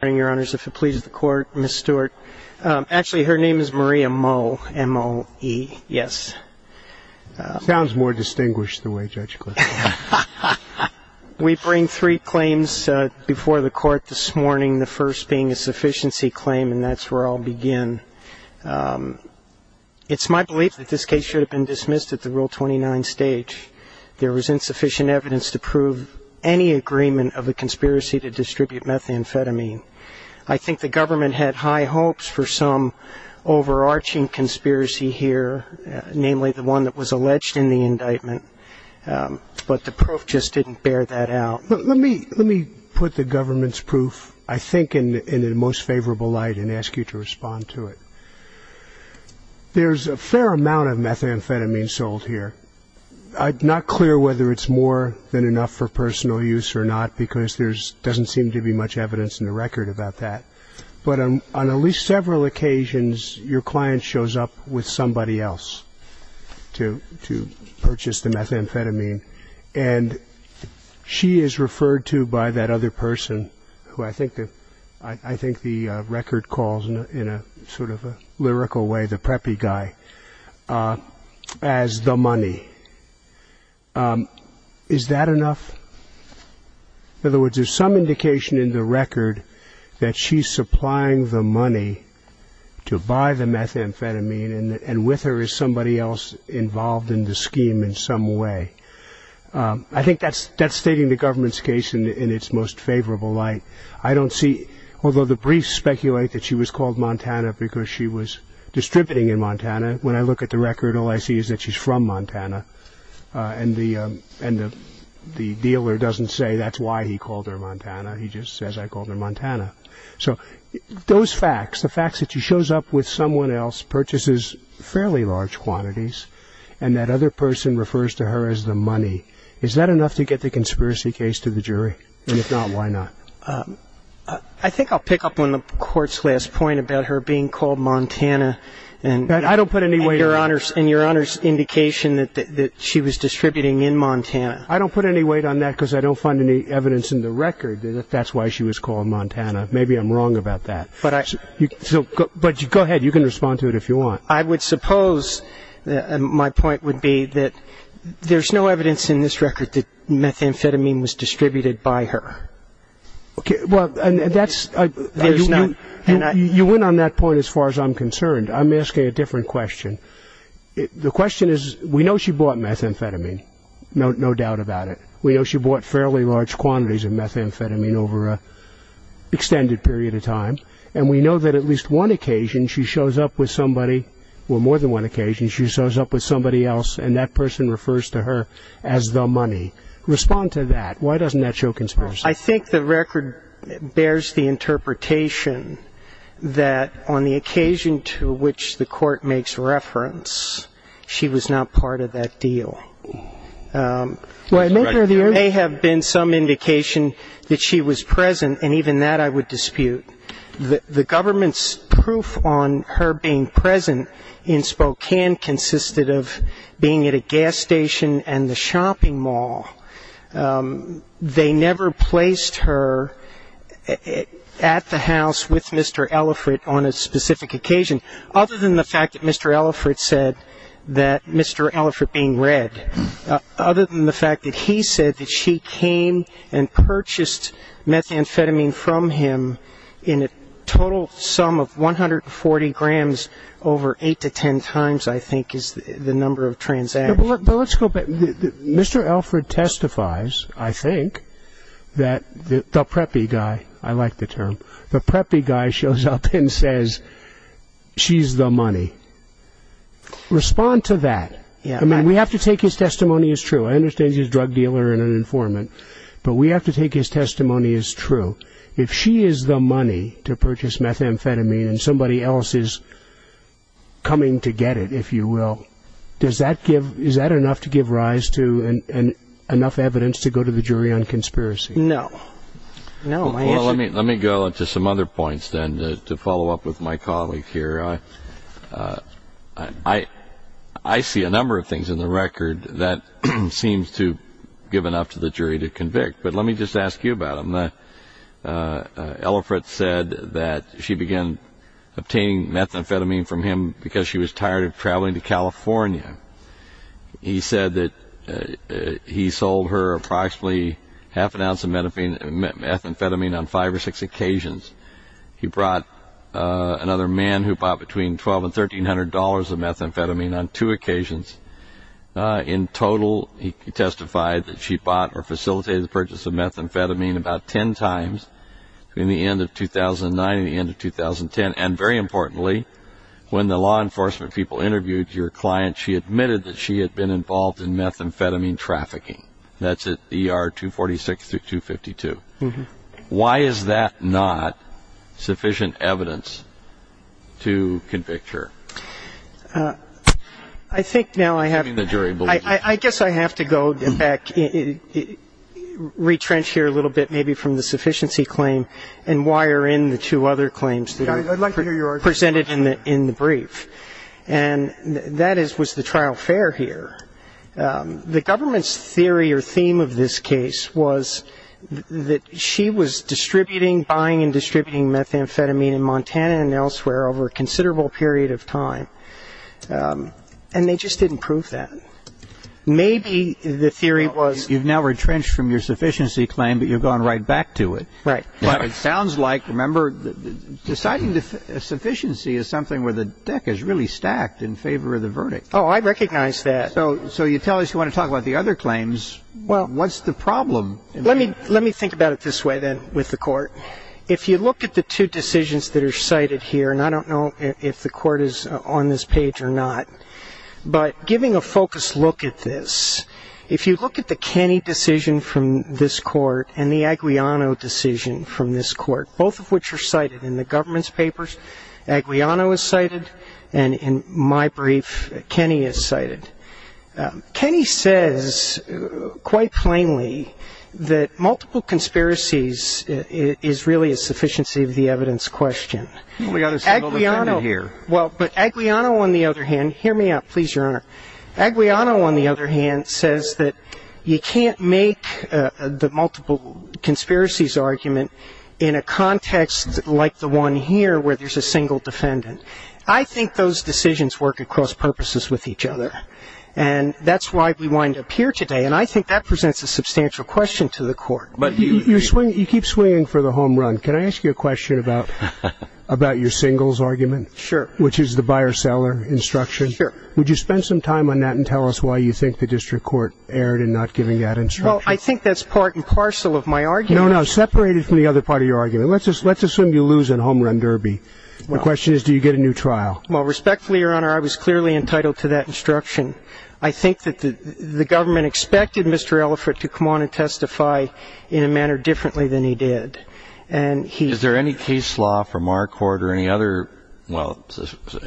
Good morning, your honors. If it pleases the court, Ms. Stewart. Actually, her name is Maria Moe, M-O-E, yes. Sounds more distinguished the way Judge Clifton calls it. We bring three claims before the court this morning, the first being a sufficiency claim, and that's where I'll begin. It's my belief that this case should have been dismissed at the Rule 29 stage. There was insufficient evidence to prove any agreement of a conspiracy to distribute methamphetamine. I think the government had high hopes for some overarching conspiracy here, namely the one that was alleged in the indictment. But the proof just didn't bear that out. Let me put the government's proof, I think, in the most favorable light and ask you to respond to it. There's a fair amount of methamphetamine sold here. I'm not clear whether it's more than enough for personal use or not, because there doesn't seem to be much evidence in the record about that. But on at least several occasions, your client shows up with somebody else to purchase the methamphetamine, and she is referred to by that other person, who I think the record calls in a sort of a lyrical way the preppy guy, as the money. Is that enough? In other words, there's some indication in the record that she's supplying the money to buy the methamphetamine, and with her is somebody else involved in the scheme in some way. I think that's stating the government's case in its most favorable light. I don't see, although the briefs speculate that she was called Montana because she was distributing in Montana. When I look at the record, all I see is that she's from Montana, and the dealer doesn't say that's why he called her Montana. He just says, I called her Montana. So those facts, the facts that she shows up with someone else, purchases fairly large quantities, and that other person refers to her as the money, is that enough to get the conspiracy case to the jury? And if not, why not? I think I'll pick up on the Court's last point about her being called Montana and your Honor's indication that she was distributing in Montana. I don't put any weight on that because I don't find any evidence in the record that that's why she was called Montana. Maybe I'm wrong about that. But go ahead. You can respond to it if you want. I would suppose my point would be that there's no evidence in this record that methamphetamine was distributed by her. You went on that point as far as I'm concerned. I'm asking a different question. The question is, we know she bought methamphetamine, no doubt about it. We know she bought fairly large quantities of methamphetamine over an extended period of time, and we know that at least one occasion she shows up with somebody, or more than one occasion she shows up with somebody else, and that person refers to her as the money. Respond to that. Why doesn't that show conspiracy? I think the record bears the interpretation that on the occasion to which the court makes reference, she was not part of that deal. There may have been some indication that she was present, and even that I would dispute. The government's proof on her being present in Spokane consisted of being at a gas station and the shopping mall. They never placed her at the house with Mr. Ellifrit on a specific occasion, other than the fact that Mr. Ellifrit said that Mr. Ellifrit being red, other than the fact that he said that she came and purchased methamphetamine from him in a total sum of 140 grams over 8 to 10 times, I think is the number of transactions. Mr. Ellifrit testifies, I think, that the preppy guy, I like the term, the preppy guy shows up and says she's the money. Respond to that. I mean, we have to take his testimony as true. I understand he's a drug dealer and an informant, but we have to take his testimony as true. If she is the money to purchase methamphetamine and somebody else is coming to get it, if you will, is that enough to give rise to enough evidence to go to the jury on conspiracy? No. Well, let me go to some other points then to follow up with my colleague here. I see a number of things in the record that seems to give enough to the jury to convict, but let me just ask you about them. Mr. Ellifrit said that she began obtaining methamphetamine from him because she was tired of traveling to California. He said that he sold her approximately half an ounce of methamphetamine on five or six occasions. He brought another man who bought between $1,200 and $1,300 of methamphetamine on two occasions. In total, he testified that she bought or facilitated the purchase of methamphetamine about ten times between the end of 2009 and the end of 2010. And very importantly, when the law enforcement people interviewed your client, she admitted that she had been involved in methamphetamine trafficking. That's at ER 246 through 252. Why is that not sufficient evidence to convict her? I think now I have to go back, retrench here a little bit maybe from the sufficiency claim and wire in the two other claims presented in the brief. And that was the trial fair here. The government's theory or theme of this case was that she was distributing, buying and distributing methamphetamine in Montana and elsewhere over a considerable period of time. And they just didn't prove that. Maybe the theory was you've now retrenched from your sufficiency claim, but you've gone right back to it. Right. But it sounds like, remember, deciding the sufficiency is something where the deck is really stacked in favor of the verdict. Oh, I recognize that. So you tell us you want to talk about the other claims. What's the problem? Let me think about it this way then with the court. If you look at the two decisions that are cited here, and I don't know if the court is on this page or not, but giving a focused look at this, if you look at the Kenney decision from this court and the Aguilano decision from this court, both of which are cited in the government's papers, Aguilano is cited and in my brief, Kenney is cited. Kenney says quite plainly that multiple conspiracies is really a sufficiency of the evidence question. We've got a single defendant here. Well, but Aguilano, on the other hand, hear me out, please, Your Honor. Aguilano, on the other hand, says that you can't make the multiple conspiracies argument in a context like the one here where there's a single defendant. I think those decisions work at cross purposes with each other, and that's why we wind up here today, and I think that presents a substantial question to the court. But you keep swinging for the home run. Can I ask you a question about your singles argument? Sure. Which is the buyer-seller instruction. Sure. Would you spend some time on that and tell us why you think the district court erred in not giving that instruction? Well, I think that's part and parcel of my argument. No, no, separate it from the other part of your argument. Let's assume you lose in a home run derby. My question is, do you get a new trial? Well, respectfully, Your Honor, I was clearly entitled to that instruction. I think that the government expected Mr. Elephant to come on and testify in a manner differently than he did. Is there any case law from our court or any other, well,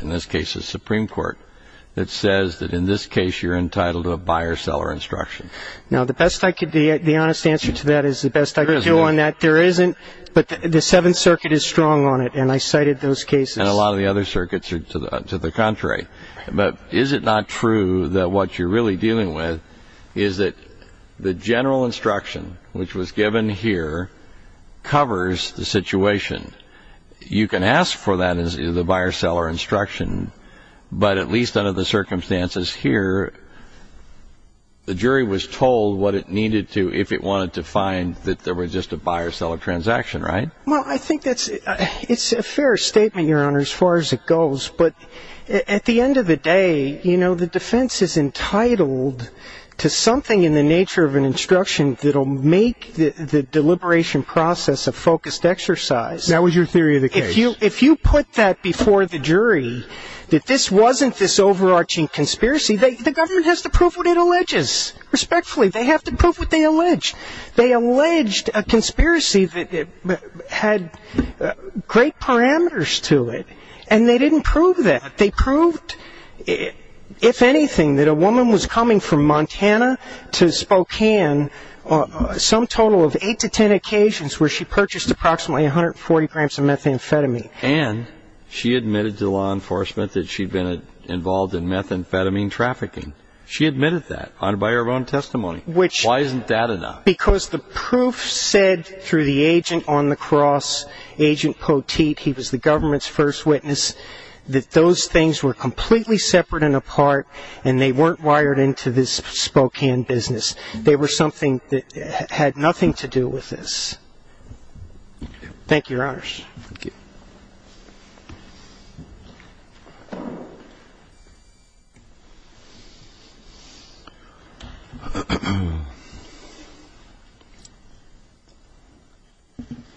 in this case, the Supreme Court, that says that in this case you're entitled to a buyer-seller instruction? Now, the honest answer to that is the best I could do on that. There isn't. But the Seventh Circuit is strong on it, and I cited those cases. And a lot of the other circuits are to the contrary. But is it not true that what you're really dealing with is that the general instruction, which was given here, covers the situation? You can ask for that in the buyer-seller instruction, but at least under the circumstances here, the jury was told what it needed to if it wanted to find that there was just a buyer-seller transaction, right? Well, I think that's a fair statement, Your Honor, as far as it goes. But at the end of the day, you know, the defense is entitled to something in the nature of an instruction that will make the deliberation process a focused exercise. That was your theory of the case. If you put that before the jury, that this wasn't this overarching conspiracy, the government has to prove what it alleges. Respectfully, they have to prove what they allege. They alleged a conspiracy that had great parameters to it, and they didn't prove that. They proved, if anything, that a woman was coming from Montana to Spokane, some total of eight to ten occasions where she purchased approximately 140 grams of methamphetamine. And she admitted to law enforcement that she'd been involved in methamphetamine trafficking. She admitted that by her own testimony. Why isn't that enough? Because the proof said through the agent on the cross, Agent Poteet, he was the government's first witness, that those things were completely separate and apart, and they weren't wired into this Spokane business. They were something that had nothing to do with this. Thank you, Your Honors. Thank you.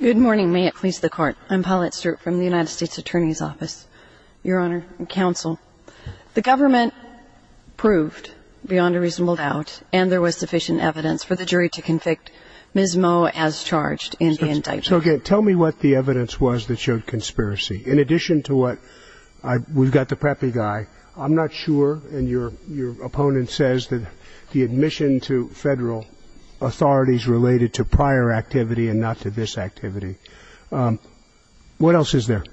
Good morning. May it please the Court. I'm Paulette Strupp from the United States Attorney's Office. Your Honor and counsel, the government proved beyond a reasonable doubt, and there was sufficient evidence for the jury to convict Ms. Moe as charged in the indictment. So again, tell me what the evidence was that showed conspiracy. In addition to what we've got the preppy guy, I'm not sure, and your opponent says that the admission to federal authority is related to prior activity and not to this activity. What else is there?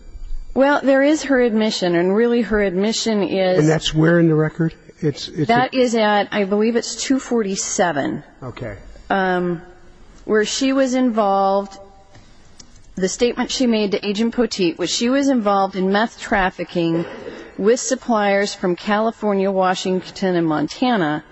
Well, there is her admission, and really her admission is. And that's where in the record? That is at, I believe it's 247. Okay. Where she was involved, the statement she made to Agent Poteet was she was involved in meth trafficking with suppliers from California, Washington, and Montana,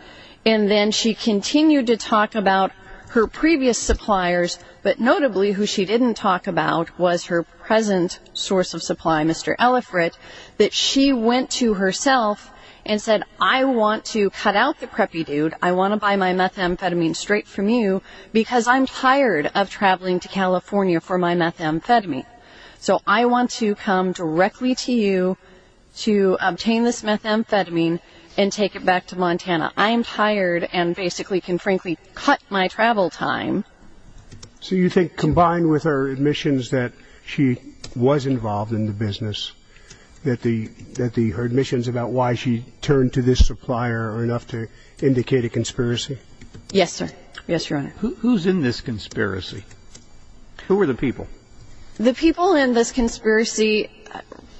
and then she continued to talk about her previous suppliers, but notably who she didn't talk about was her present source of supply, Mr. Ellifrit, that she went to herself and said, I want to cut out the preppy dude. I want to buy my methamphetamine straight from you because I'm tired of traveling to California for my methamphetamine. So I want to come directly to you to obtain this methamphetamine and take it back to Montana. I am tired and basically can frankly cut my travel time. So you think combined with her admissions that she was involved in the business, that her admissions about why she turned to this supplier are enough to indicate a conspiracy? Yes, sir. Yes, Your Honor. Who's in this conspiracy? Who are the people? The people in this conspiracy,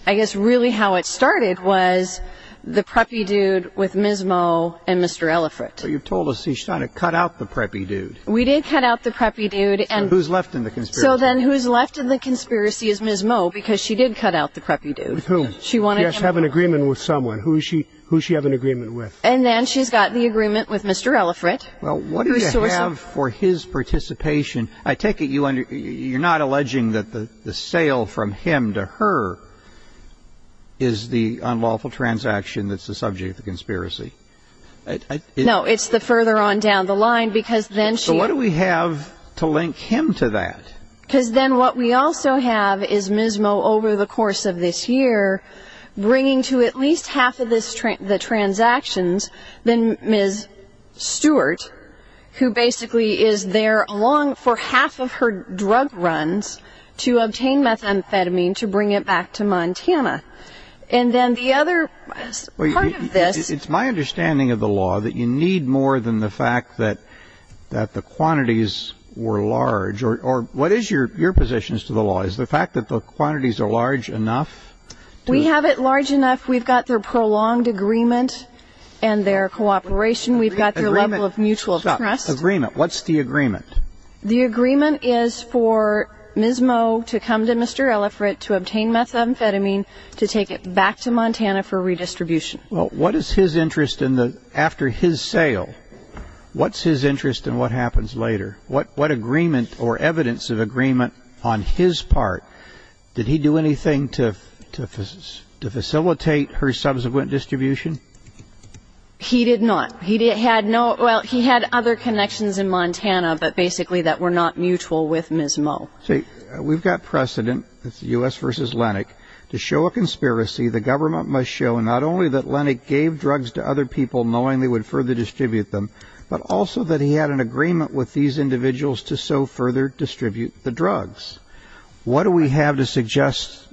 I guess really how it started was the preppy dude with Ms. Moe and Mr. Ellifrit. So you've told us she's trying to cut out the preppy dude. We did cut out the preppy dude. So who's left in the conspiracy? So then who's left in the conspiracy is Ms. Moe because she did cut out the preppy dude. With whom? She wanted him. She has to have an agreement with someone. Who does she have an agreement with? And then she's got the agreement with Mr. Ellifrit. Well, what do you have for his participation? I take it you're not alleging that the sale from him to her is the unlawful transaction that's the subject of the conspiracy? No, it's the further on down the line because then she... So what do we have to link him to that? Because then what we also have is Ms. Moe over the course of this year bringing to at least half of the transactions then Ms. Stewart who basically is there for half of her drug runs to obtain methamphetamine to bring it back to Montana. And then the other part of this... It's my understanding of the law that you need more than the fact that the quantities were large. Or what is your position as to the law? Is the fact that the quantities are large enough? We have it large enough. We've got their prolonged agreement and their cooperation. We've got their level of mutual trust. Stop, agreement. What's the agreement? The agreement is for Ms. Moe to come to Mr. Ellifrit to obtain methamphetamine to take it back to Montana for redistribution. What is his interest after his sale? What's his interest in what happens later? What agreement or evidence of agreement on his part? Did he do anything to facilitate her subsequent distribution? He did not. He had other connections in Montana but basically that were not mutual with Ms. Moe. See, we've got precedent. It's the U.S. versus Lennox. To show a conspiracy, the government must show not only that Lennox gave drugs to other people knowing they would further distribute them, but also that he had an agreement with these individuals to so further distribute the drugs. What do we have to suggest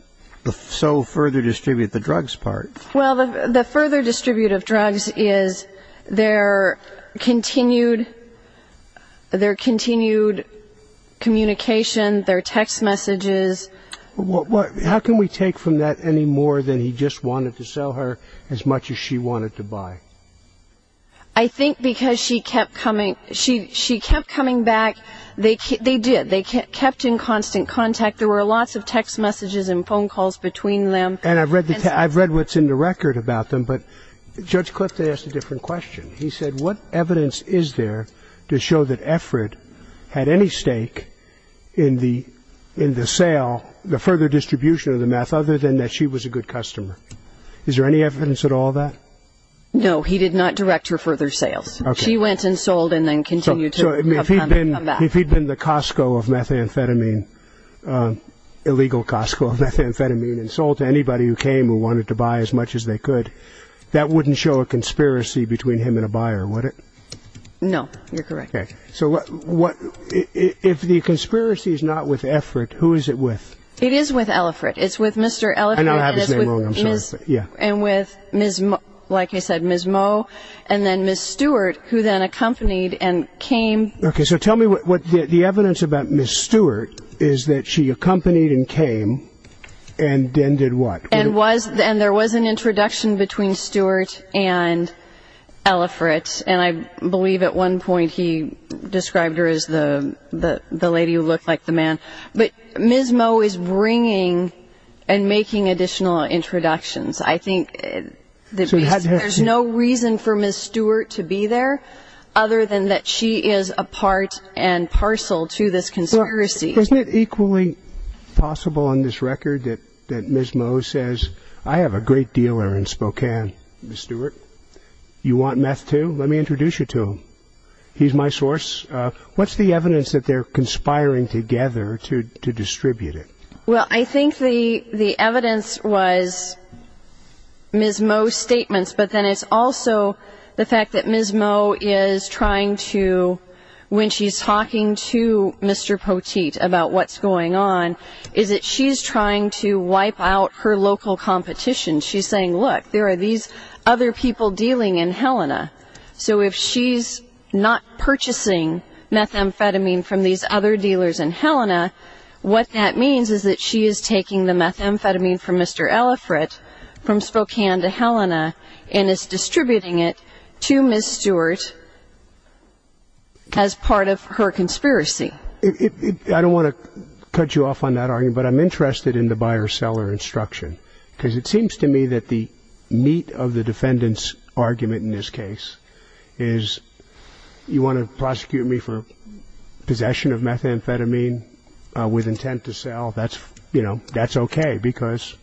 the so further distribute the drugs part? Well, the further distribute of drugs is their continued communication, their text messages. How can we take from that any more than he just wanted to sell her as much as she wanted to buy? I think because she kept coming back. They did. They kept in constant contact. There were lots of text messages and phone calls between them. And I've read what's in the record about them, but Judge Clift asked a different question. He said, what evidence is there to show that Efrid had any stake in the sale, the further distribution of the meth, other than that she was a good customer? Is there any evidence at all of that? No, he did not direct her further sales. She went and sold and then continued to come back. If he'd been the Costco of methamphetamine, illegal Costco of methamphetamine, and sold to anybody who came who wanted to buy as much as they could, that wouldn't show a conspiracy between him and a buyer, would it? No, you're correct. So if the conspiracy is not with Efrid, who is it with? It is with Elfrid. It's with Mr. Elfrid. I know I have his name wrong. I'm sorry. And with, like I said, Ms. Mo and then Ms. Stewart, who then accompanied and came. Okay, so tell me what the evidence about Ms. Stewart is that she accompanied and came and then did what? And there was an introduction between Stewart and Elfrid, and I believe at one point he described her as the lady who looked like the man. But Ms. Mo is bringing and making additional introductions. I think there's no reason for Ms. Stewart to be there, other than that she is a part and parcel to this conspiracy. Isn't it equally possible on this record that Ms. Mo says, I have a great dealer in Spokane, Ms. Stewart? You want meth too? Let me introduce you to him. He's my source. What's the evidence that they're conspiring together to distribute it? Well, I think the evidence was Ms. Mo's statements, but then it's also the fact that Ms. Mo is trying to, when she's talking to Mr. Poteet about what's going on, is that she's trying to wipe out her local competition. She's saying, look, there are these other people dealing in Helena. So if she's not purchasing methamphetamine from these other dealers in Helena, what that means is that she is taking the methamphetamine from Mr. Elifrit from Spokane to Helena and is distributing it to Ms. Stewart as part of her conspiracy. I don't want to cut you off on that argument, but I'm interested in the buyer-seller instruction, because it seems to me that the meat of the defendant's argument in this case is, you want to prosecute me for possession of methamphetamine with intent to sell, that's okay because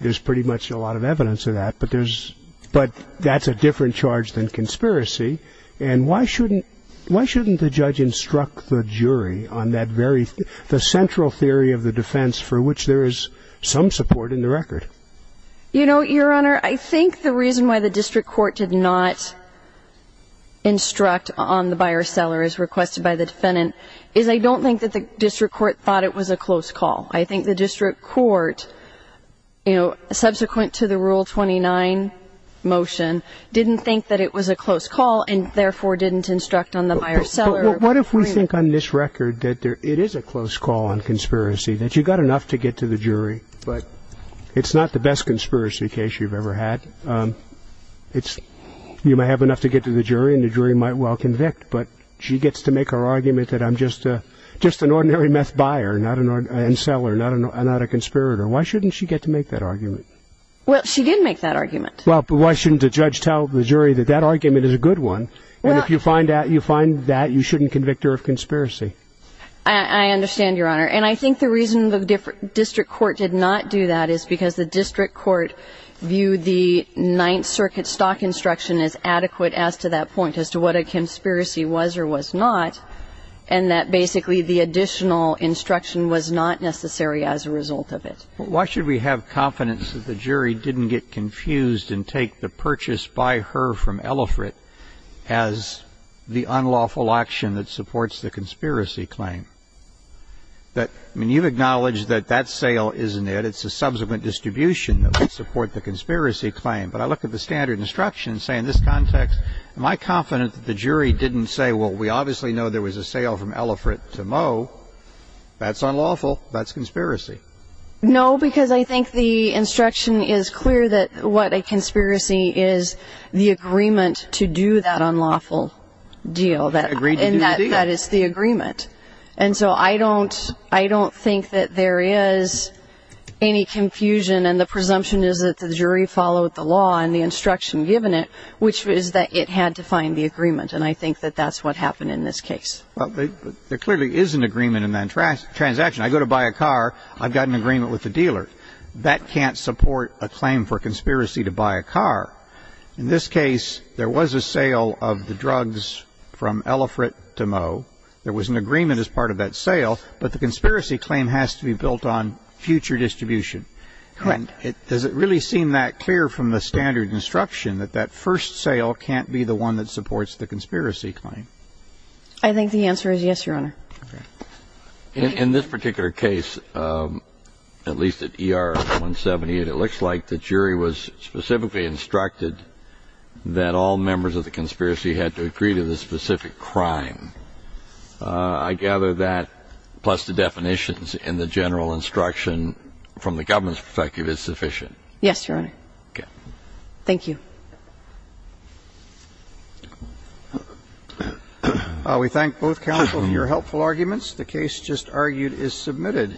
there's pretty much a lot of evidence of that, but that's a different charge than conspiracy. And why shouldn't the judge instruct the jury on the central theory of the defense for which there is some support in the record? You know, Your Honor, I think the reason why the district court did not instruct on the buyer-seller as requested by the defendant is I don't think that the district court thought it was a close call. I think the district court, subsequent to the Rule 29 motion, didn't think that it was a close call and therefore didn't instruct on the buyer-seller. But what if we think on this record that it is a close call on conspiracy, that you've got enough to get to the jury, but it's not the best conspiracy case you've ever had. You may have enough to get to the jury and the jury might well convict, but she gets to make her argument that I'm just an ordinary meth buyer and seller, not a conspirator. Why shouldn't she get to make that argument? Well, she did make that argument. Well, but why shouldn't the judge tell the jury that that argument is a good one, and if you find that, you shouldn't convict her of conspiracy? I understand, Your Honor. And I think the reason the district court did not do that is because the district court viewed the Ninth Circuit stock instruction as adequate as to that point, as to what a conspiracy was or was not, and that basically the additional instruction was not necessary as a result of it. Why should we have confidence that the jury didn't get confused and take the purchase by her from Ellifrit as the unlawful action that supports the conspiracy claim? I mean, you've acknowledged that that sale isn't it. It's a subsequent distribution that would support the conspiracy claim, but I look at the standard instruction and say in this context, am I confident that the jury didn't say, well, we obviously know there was a sale from Ellifrit to Moe. That's unlawful. That's conspiracy. No, because I think the instruction is clear that what a conspiracy is the agreement to do that unlawful deal. Agreed to the deal. That is the agreement. And so I don't think that there is any confusion, and the presumption is that the jury followed the law and the instruction given it, which is that it had to find the agreement, and I think that that's what happened in this case. Well, there clearly is an agreement in that transaction. I go to buy a car. I've got an agreement with the dealer. That can't support a claim for conspiracy to buy a car. In this case, there was a sale of the drugs from Ellifrit to Moe. There was an agreement as part of that sale, but the conspiracy claim has to be built on future distribution. Correct. Does it really seem that clear from the standard instruction that that first sale can't be the one that supports the conspiracy claim? I think the answer is yes, Your Honor. Okay. In this particular case, at least at ER-178, it looks like the jury was specifically instructed that all members of the conspiracy had to agree to the specific crime. I gather that, plus the definitions and the general instruction from the government's perspective, is sufficient. Yes, Your Honor. Okay. Thank you. We thank both counsel for your helpful arguments. The case just argued is submitted.